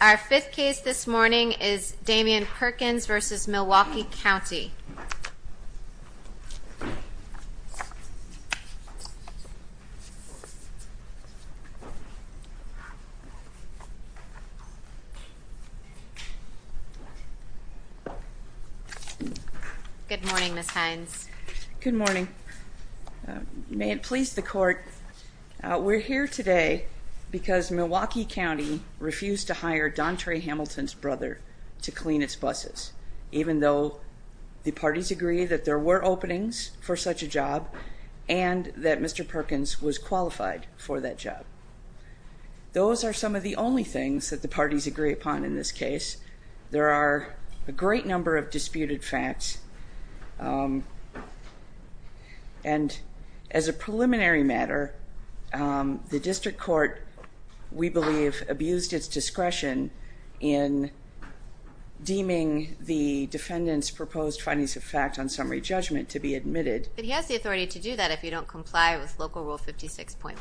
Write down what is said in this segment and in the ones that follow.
Our fifth case this morning is Damion Perkins v. Milwaukee County. Good morning, Ms. Hines. Good morning. May it please the court, we're here today because Milwaukee County refused to hire Dontre Hamilton's brother to clean its buses, even though the parties agree that there were openings for such a job and that Mr. Perkins was qualified for that job. Those are some of the only things that the parties agree upon in this case. There are a great number of disputed facts, and as a preliminary matter, the district court, we believe, abused its discretion in deeming the defendant's proposed findings of fact on summary judgment to be admitted. But he has the authority to do that if you don't comply with Local Rule 56.1.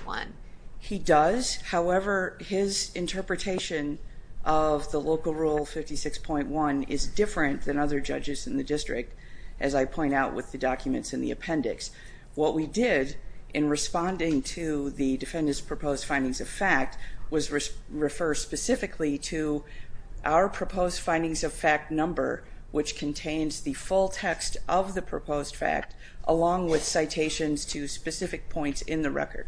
He does, however, his interpretation of the Local Rule 56.1 is different than other judges in the district, as I point out with the documents in the appendix. What we did in responding to the defendant's proposed findings of fact was refer specifically to our proposed findings of fact number, which contains the full text of the proposed fact along with citations to specific points in the record.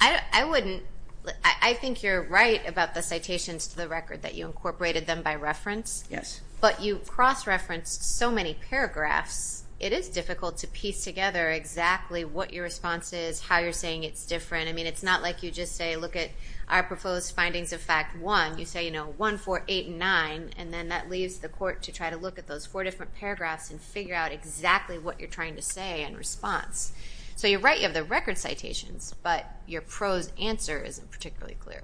I think you're right about the citations to the record, that you incorporated them by reference. Yes. But you cross-referenced so many paragraphs, it is difficult to piece together exactly what your response is, how you're saying it's different. I mean, it's not like you just say, look at our proposed findings of fact one. You say, you know, one, four, eight, and nine, and then that leaves the court to try to look at those four different paragraphs and figure out exactly what you're trying to say in response. So you're right, you have the record citations, but your prose answer isn't particularly clear.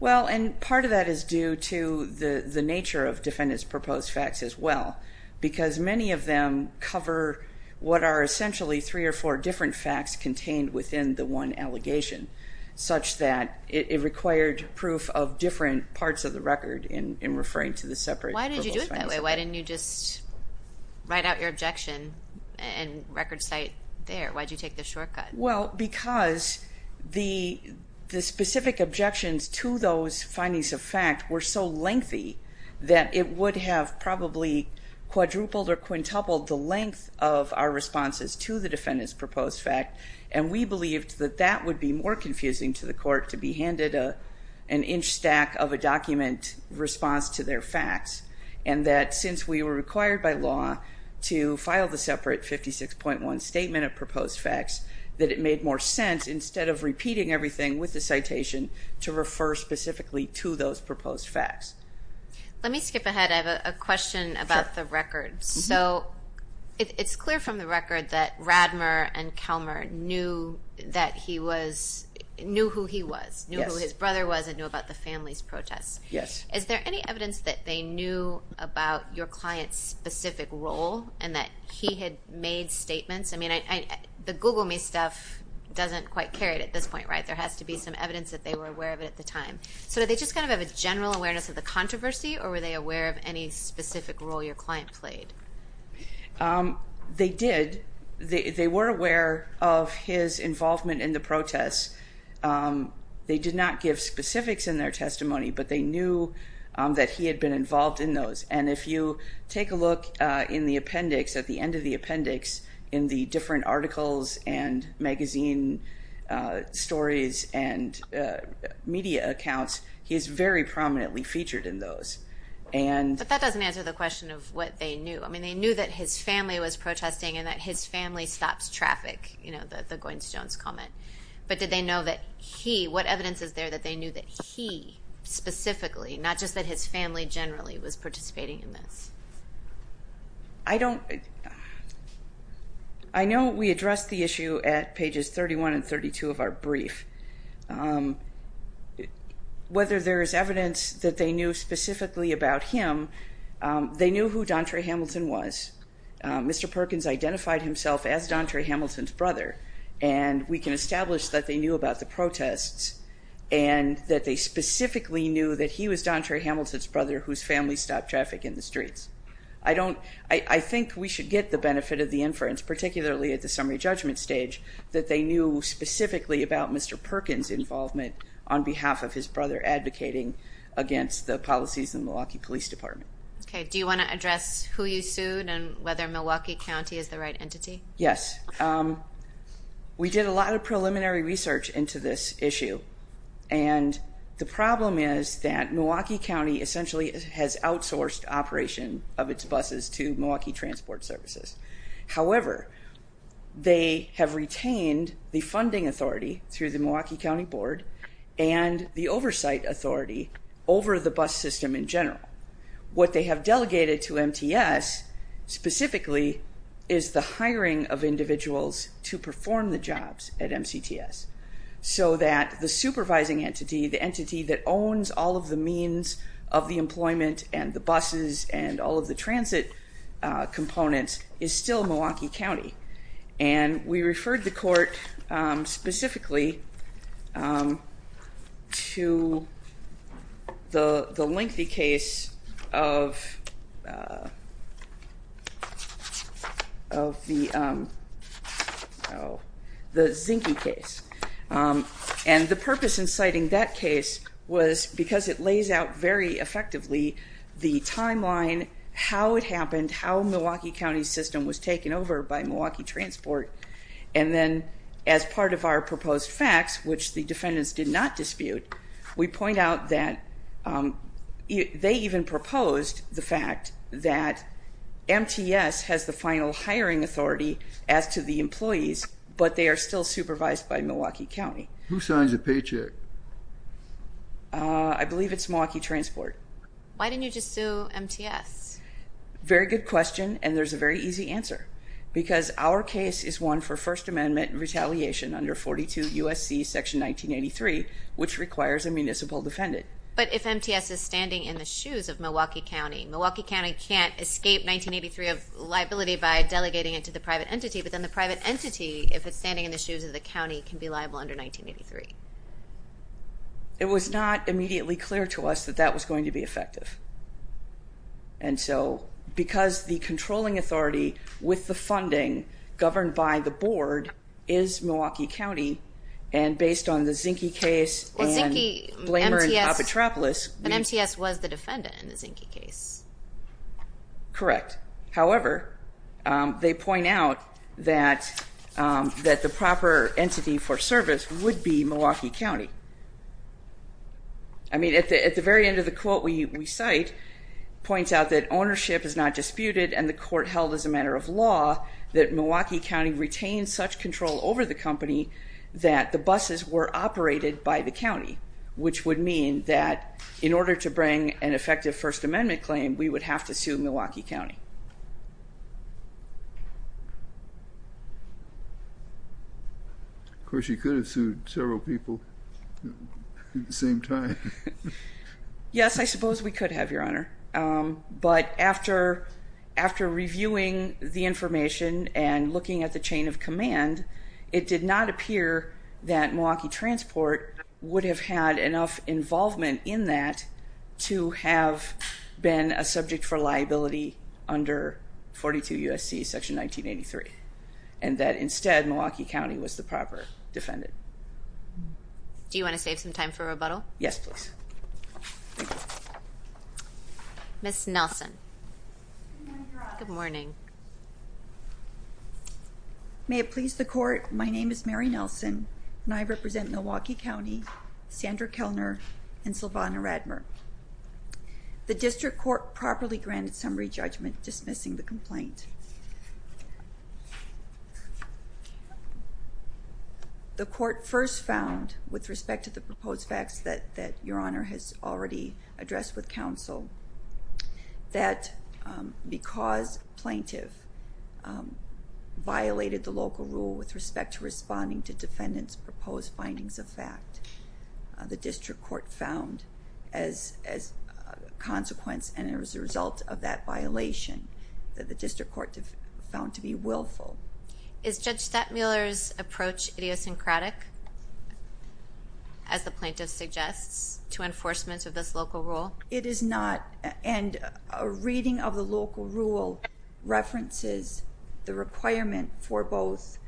Well, and part of that is due to the nature of defendant's proposed facts as well, because many of them cover what are essentially three or four different facts contained within the one allegation, such that it required proof of different parts of the record in referring to the separate proposed findings of fact. Why did you do it that way? Why didn't you just write out your objection and record cite there? Why did you take the shortcut? Well, because the specific objections to those findings of fact were so lengthy that it would have probably quadrupled or quintupled the length of our responses to the defendant's proposed fact. And we believed that that would be more confusing to the court to be handed an inch stack of a document response to their facts. And that since we were required by law to file the separate 56.1 statement of proposed facts, that it made more sense, instead of repeating everything with the citation, to refer specifically to those proposed facts. Let me skip ahead. I have a question about the record. So it's clear from the record that Radmer and Kelmer knew who he was, knew who his brother was, and knew about the family's protests. Yes. Is there any evidence that they knew about your client's specific role and that he had made statements? I mean, the Google me stuff doesn't quite carry it at this point, right? There has to be some evidence that they were aware of it at the time. So did they just kind of have a general awareness of the controversy, or were they aware of any specific role your client played? They did. They were aware of his involvement in the protests. They did not give specifics in their testimony, but they knew that he had been involved in those. And if you take a look in the appendix, at the end of the appendix, in the different articles and magazine stories and media accounts, he's very prominently featured in those. But that doesn't answer the question of what they knew. I mean, they knew that his family was protesting and that his family stops traffic, you know, the Goins-Jones comment. But did they know that he – what evidence is there that they knew that he specifically, not just that his family generally, was participating in this? I don't – I know we addressed the issue at pages 31 and 32 of our brief. Whether there is evidence that they knew specifically about him, they knew who Dontre Hamilton was. Mr. Perkins identified himself as Dontre Hamilton's brother, and we can establish that they knew about the protests and that they specifically knew that he was Dontre Hamilton's brother whose family stopped traffic in the streets. I don't – I think we should get the benefit of the inference, particularly at the summary judgment stage, that they knew specifically about Mr. Perkins' involvement on behalf of his brother advocating against the policies in the Milwaukee Police Department. Okay. Do you want to address who you sued and whether Milwaukee County is the right entity? Yes. We did a lot of preliminary research into this issue, and the problem is that Milwaukee County essentially has outsourced operation of its buses to Milwaukee Transport Services. However, they have retained the funding authority through the Milwaukee County Board and the oversight authority over the bus system in general. What they have delegated to MTS specifically is the hiring of individuals to perform the jobs at MCTS so that the supervising entity, the entity that owns all of the means of the employment and the buses and all of the transit components is still Milwaukee County. And we referred the court specifically to the lengthy case of the Zinke case. And the purpose in citing that case was because it lays out very effectively the timeline, how it happened, how Milwaukee County's system was taken over by Milwaukee Transport. And then as part of our proposed facts, which the defendants did not dispute, we point out that they even proposed the fact that MTS has the final hiring authority as to the employees, but they are still supervised by Milwaukee County. Who signs the paycheck? I believe it's Milwaukee Transport. Why didn't you just sue MTS? Very good question, and there's a very easy answer. Because our case is one for First Amendment retaliation under 42 U.S.C. section 1983, which requires a municipal defendant. But if MTS is standing in the shoes of Milwaukee County, Milwaukee County can't escape 1983 of liability by delegating it to the private entity, but then the private entity, if it's standing in the shoes of the county, can be liable under 1983. It was not immediately clear to us that that was going to be effective. And so because the controlling authority with the funding governed by the board is Milwaukee County, and based on the Zinke case and Blamer and Apatropoulos. But MTS was the defendant in the Zinke case. Correct. However, they point out that the proper entity for service would be Milwaukee County. I mean, at the very end of the quote we cite points out that ownership is not disputed and the court held as a matter of law that Milwaukee County retained such control over the company that the buses were operated by the county, which would mean that in order to bring an effective First Amendment claim, we would have to sue Milwaukee County. Of course, you could have sued several people at the same time. Yes, I suppose we could have, Your Honor. But after reviewing the information and looking at the chain of command, it did not appear that Milwaukee Transport would have had enough involvement in that to have been a subject for liability under 42 U.S.C. section 1983, and that instead Milwaukee County was the proper defendant. Do you want to save some time for rebuttal? Yes, please. Thank you. Ms. Nelson. Good morning, Your Honor. Good morning. May it please the court, my name is Mary Nelson, and I represent Milwaukee County, Sandra Kellner, and Silvana Radmer. The district court properly granted summary judgment dismissing the complaint. The court first found, with respect to the proposed facts that Your Honor has already addressed with counsel, that because plaintiff violated the local rule with respect to responding to defendant's proposed findings of fact, the district court found as a consequence and as a result of that violation, that the district court found to be willful. Is Judge Stattmuller's approach idiosyncratic, as the plaintiff suggests, to enforcement of this local rule? It is not, and a reading of the local rule references the requirement for both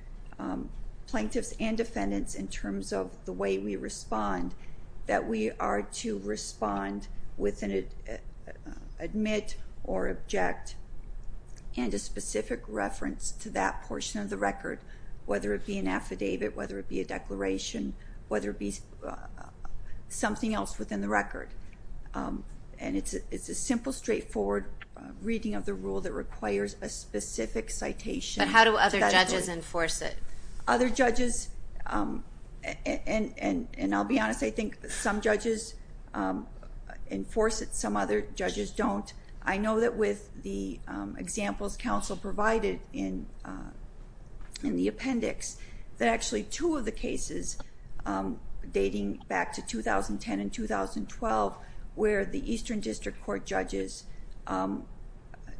plaintiffs and defendants in terms of the way we respond, that we are to respond with an admit or object, and a specific reference to that portion of the record, whether it be an affidavit, whether it be a declaration, whether it be something else within the record. And it's a simple, straightforward reading of the rule that requires a specific citation. But how do other judges enforce it? Other judges, and I'll be honest, I think some judges enforce it, some other judges don't. I know that with the examples counsel provided in the appendix, that actually two of the cases dating back to 2010 and 2012, where the Eastern District Court judges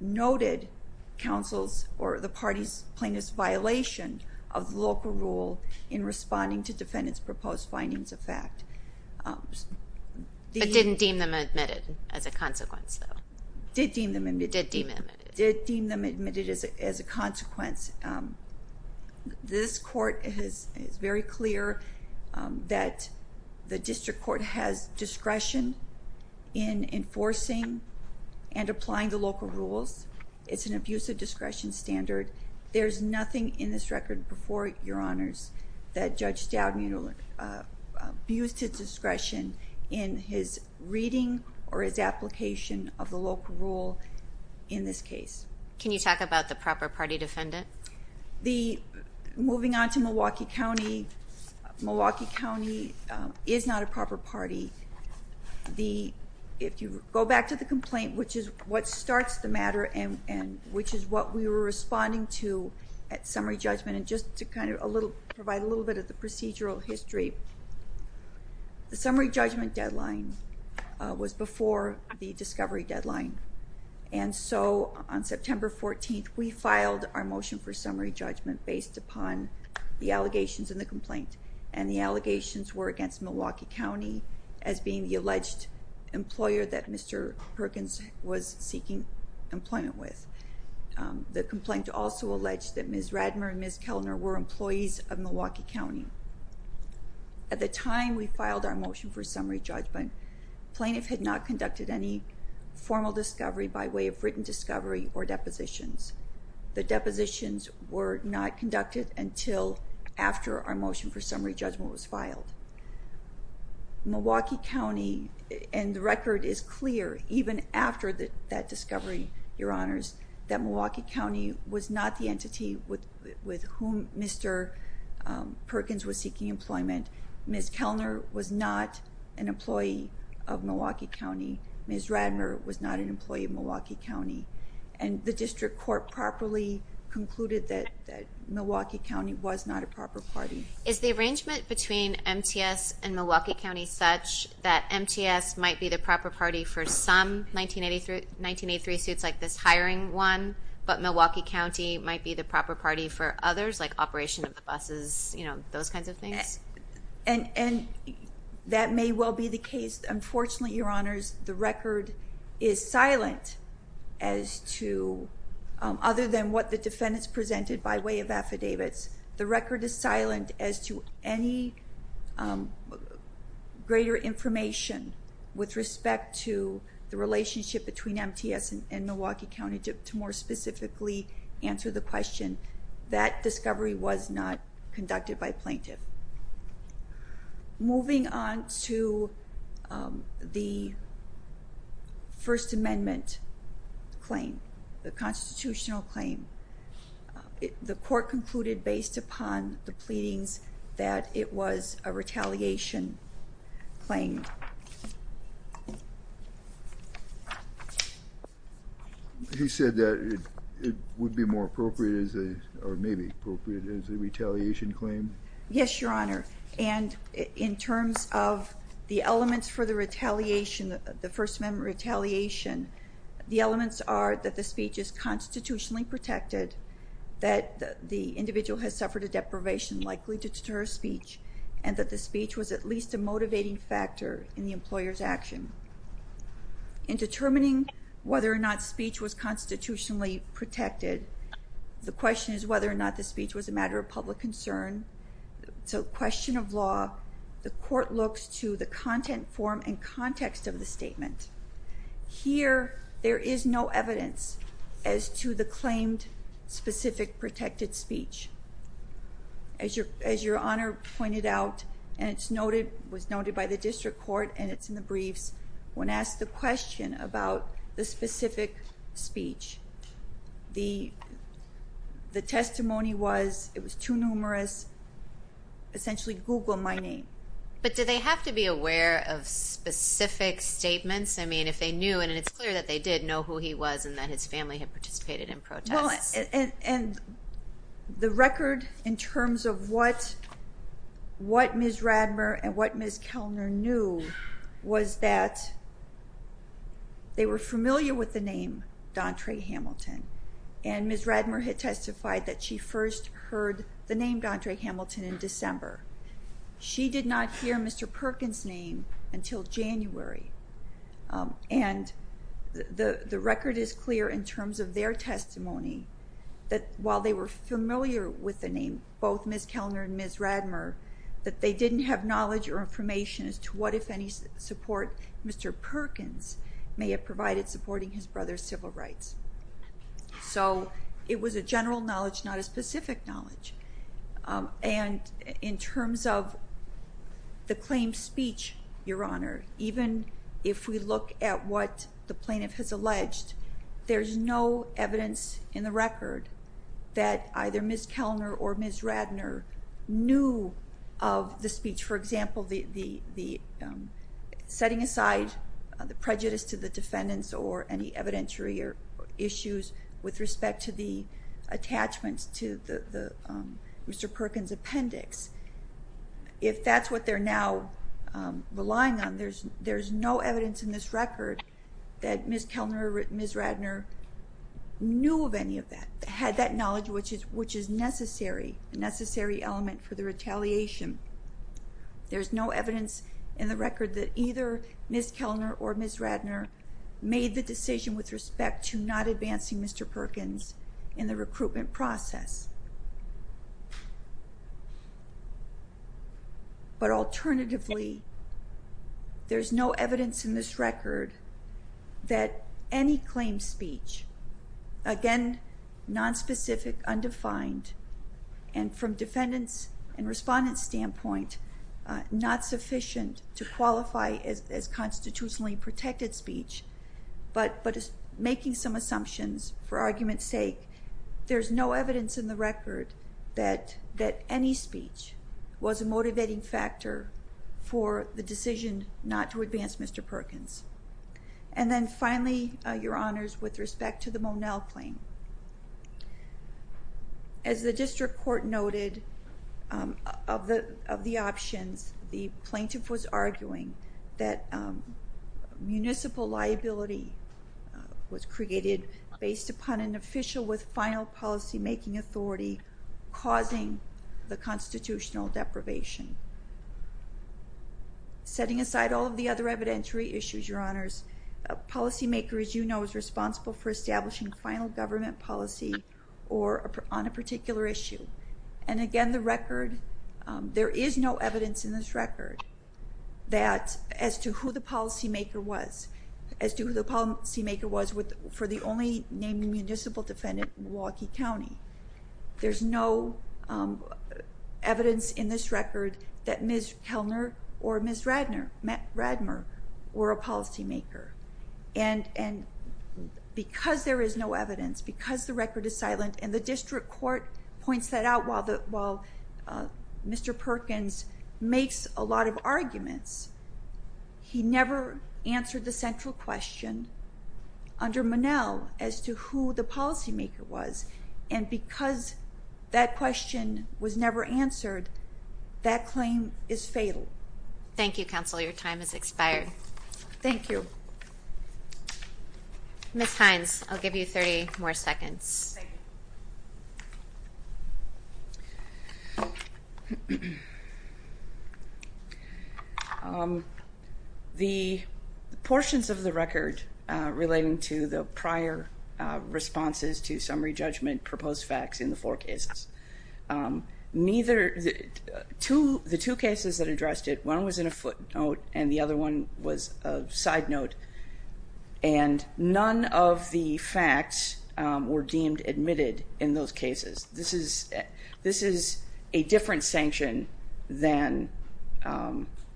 noted counsel's or the party's plaintiff's violation of the local rule in responding to defendant's proposed findings of fact. But didn't deem them admitted as a consequence, though? Did deem them admitted. Did deem them admitted. Did deem them admitted as a consequence. This Court is very clear that the District Court has discretion in enforcing and applying the local rules. It's an abusive discretion standard. There's nothing in this record before Your Honors that Judge Stoudmiller abused his discretion in his reading or his application of the local rule in this case. Can you talk about the proper party defendant? Moving on to Milwaukee County, Milwaukee County is not a proper party. If you go back to the complaint, which is what starts the matter, and which is what we were responding to at summary judgment, and just to kind of provide a little bit of the procedural history, the summary judgment deadline was before the discovery deadline. And so on September 14th, we filed our motion for summary judgment based upon the allegations in the complaint. And the allegations were against Milwaukee County as being the alleged employer that Mr. Perkins was seeking employment with. The complaint also alleged that Ms. Radmer and Ms. Kellner were employees of Milwaukee County. At the time we filed our motion for summary judgment, plaintiff had not conducted any formal discovery by way of written discovery or depositions. The depositions were not conducted until after our motion for summary judgment was filed. Milwaukee County, and the record is clear, even after that discovery, Your Honors, that Milwaukee County was not the entity with whom Mr. Perkins was seeking employment. Ms. Kellner was not an employee of Milwaukee County. Ms. Radmer was not an employee of Milwaukee County. And the district court properly concluded that Milwaukee County was not a proper party. Is the arrangement between MTS and Milwaukee County such that MTS might be the proper party for some 1983 suits like this hiring one, but Milwaukee County might be the proper party for others, like operation of the buses, you know, those kinds of things? And that may well be the case. Unfortunately, Your Honors, the record is silent as to other than what the defendants presented by way of affidavits. The record is silent as to any greater information with respect to the relationship between MTS and Milwaukee County. And to more specifically answer the question, that discovery was not conducted by plaintiff. Moving on to the First Amendment claim, the constitutional claim, the court concluded based upon the pleadings that it was a retaliation claim. You said that it would be more appropriate or maybe appropriate as a retaliation claim? Yes, Your Honor. And in terms of the elements for the retaliation, the First Amendment retaliation, the elements are that the speech is constitutionally protected, that the individual has suffered a deprivation likely to deter speech, and that the speech was at least a motivating factor in the employer's action. In determining whether or not speech was constitutionally protected, the question is whether or not the speech was a matter of public concern. It's a question of law. The court looks to the content form and context of the statement. Here, there is no evidence as to the claimed specific protected speech. As Your Honor pointed out, and it was noted by the district court and it's in the briefs, when asked the question about the specific speech, the testimony was, it was too numerous, essentially Google my name. But did they have to be aware of specific statements? I mean, if they knew, and it's clear that they did know who he was and that his family had participated in protests. Well, and the record in terms of what Ms. Radmer and what Ms. Kellner knew was that they were familiar with the name Dontre Hamilton. And Ms. Radmer had testified that she first heard the name Dontre Hamilton in December. She did not hear Mr. Perkins' name until January. And the record is clear in terms of their testimony that while they were familiar with the name, both Ms. Kellner and Ms. Radmer, that they didn't have knowledge or information as to what, if any, support Mr. Perkins may have provided supporting his brother's civil rights. So it was a general knowledge, not a specific knowledge. And in terms of the claimed speech, Your Honor, even if we look at what the plaintiff has alleged, there's no evidence in the record that either Ms. Kellner or Ms. Radmer knew of the speech. For example, setting aside the prejudice to the defendants or any evidentiary issues with respect to the attachments to Mr. Perkins' appendix, if that's what they're now relying on, there's no evidence in this record that Ms. Kellner or Ms. Radmer knew of any of that, had that knowledge which is necessary, a necessary element for the retaliation. There's no evidence in the record that either Ms. Kellner or Ms. Radmer made the decision with respect to not advancing Mr. Perkins in the recruitment process. But alternatively, there's no evidence in this record that any claimed speech, again, nonspecific, undefined, and from defendants' and respondents' standpoint, not sufficient to qualify as constitutionally protected speech, but making some assumptions for argument's sake, there's no evidence in the record that any speech was a motivating factor for the decision not to advance Mr. Perkins. And then finally, Your Honors, with respect to the Monell claim, as the district court noted of the options, the plaintiff was arguing that municipal liability was created based upon an official with final policymaking authority causing the constitutional deprivation. Setting aside all of the other evidentiary issues, Your Honors, a policymaker, as you know, is responsible for establishing final government policy on a particular issue. And again, there is no evidence in this record as to who the policymaker was for the only named municipal defendant in Milwaukee County. There's no evidence in this record that Ms. Kellner or Ms. Radmer were a policymaker. And because there is no evidence, because the record is silent, and the district court points that out while Mr. Perkins makes a lot of arguments, he never answered the central question under Monell as to who the policymaker was. And because that question was never answered, that claim is fatal. Thank you, counsel. Your time has expired. Thank you. Ms. Hines, I'll give you 30 more seconds. Thank you. The portions of the record relating to the prior responses to summary judgment proposed facts in the four cases. The two cases that addressed it, one was in a footnote and the other one was a side note, and none of the facts were deemed admitted in those cases. This is a different sanction than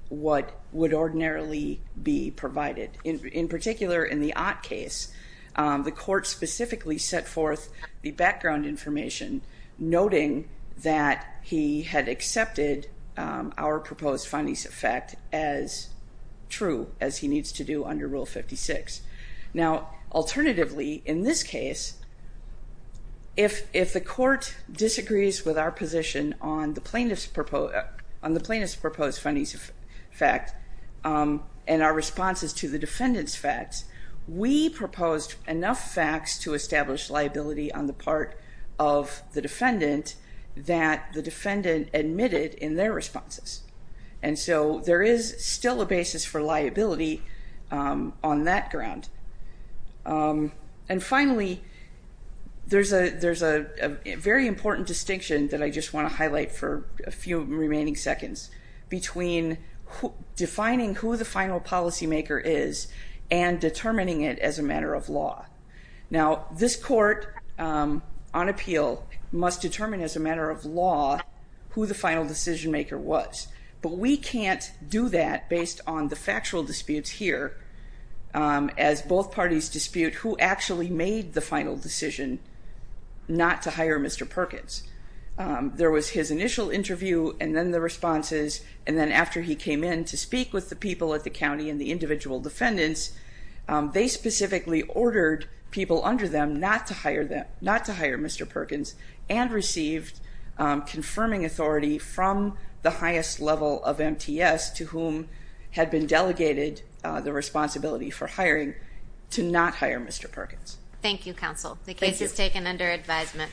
what would ordinarily be provided. In particular, in the Ott case, the court specifically set forth the background information. Noting that he had accepted our proposed findings of fact as true, as he needs to do under Rule 56. Now, alternatively, in this case, if the court disagrees with our position on the plaintiff's proposed findings of fact and our responses to the defendant's facts, we proposed enough facts to establish liability on the part of the defendant that the defendant admitted in their responses. And so there is still a basis for liability on that ground. And finally, there's a very important distinction that I just want to highlight for a few remaining seconds between defining who the final policymaker is and determining it as a matter of law. Now, this court on appeal must determine as a matter of law who the final decision maker was. But we can't do that based on the factual disputes here, as both parties dispute who actually made the final decision not to hire Mr. Perkins. There was his initial interview and then the responses, and then after he came in to speak with the people at the county and the individual defendants, they specifically ordered people under them not to hire Mr. Perkins and received confirming authority from the highest level of MTS to whom had been delegated the responsibility for hiring to not hire Mr. Perkins. Thank you, counsel. The case is taken under advisement.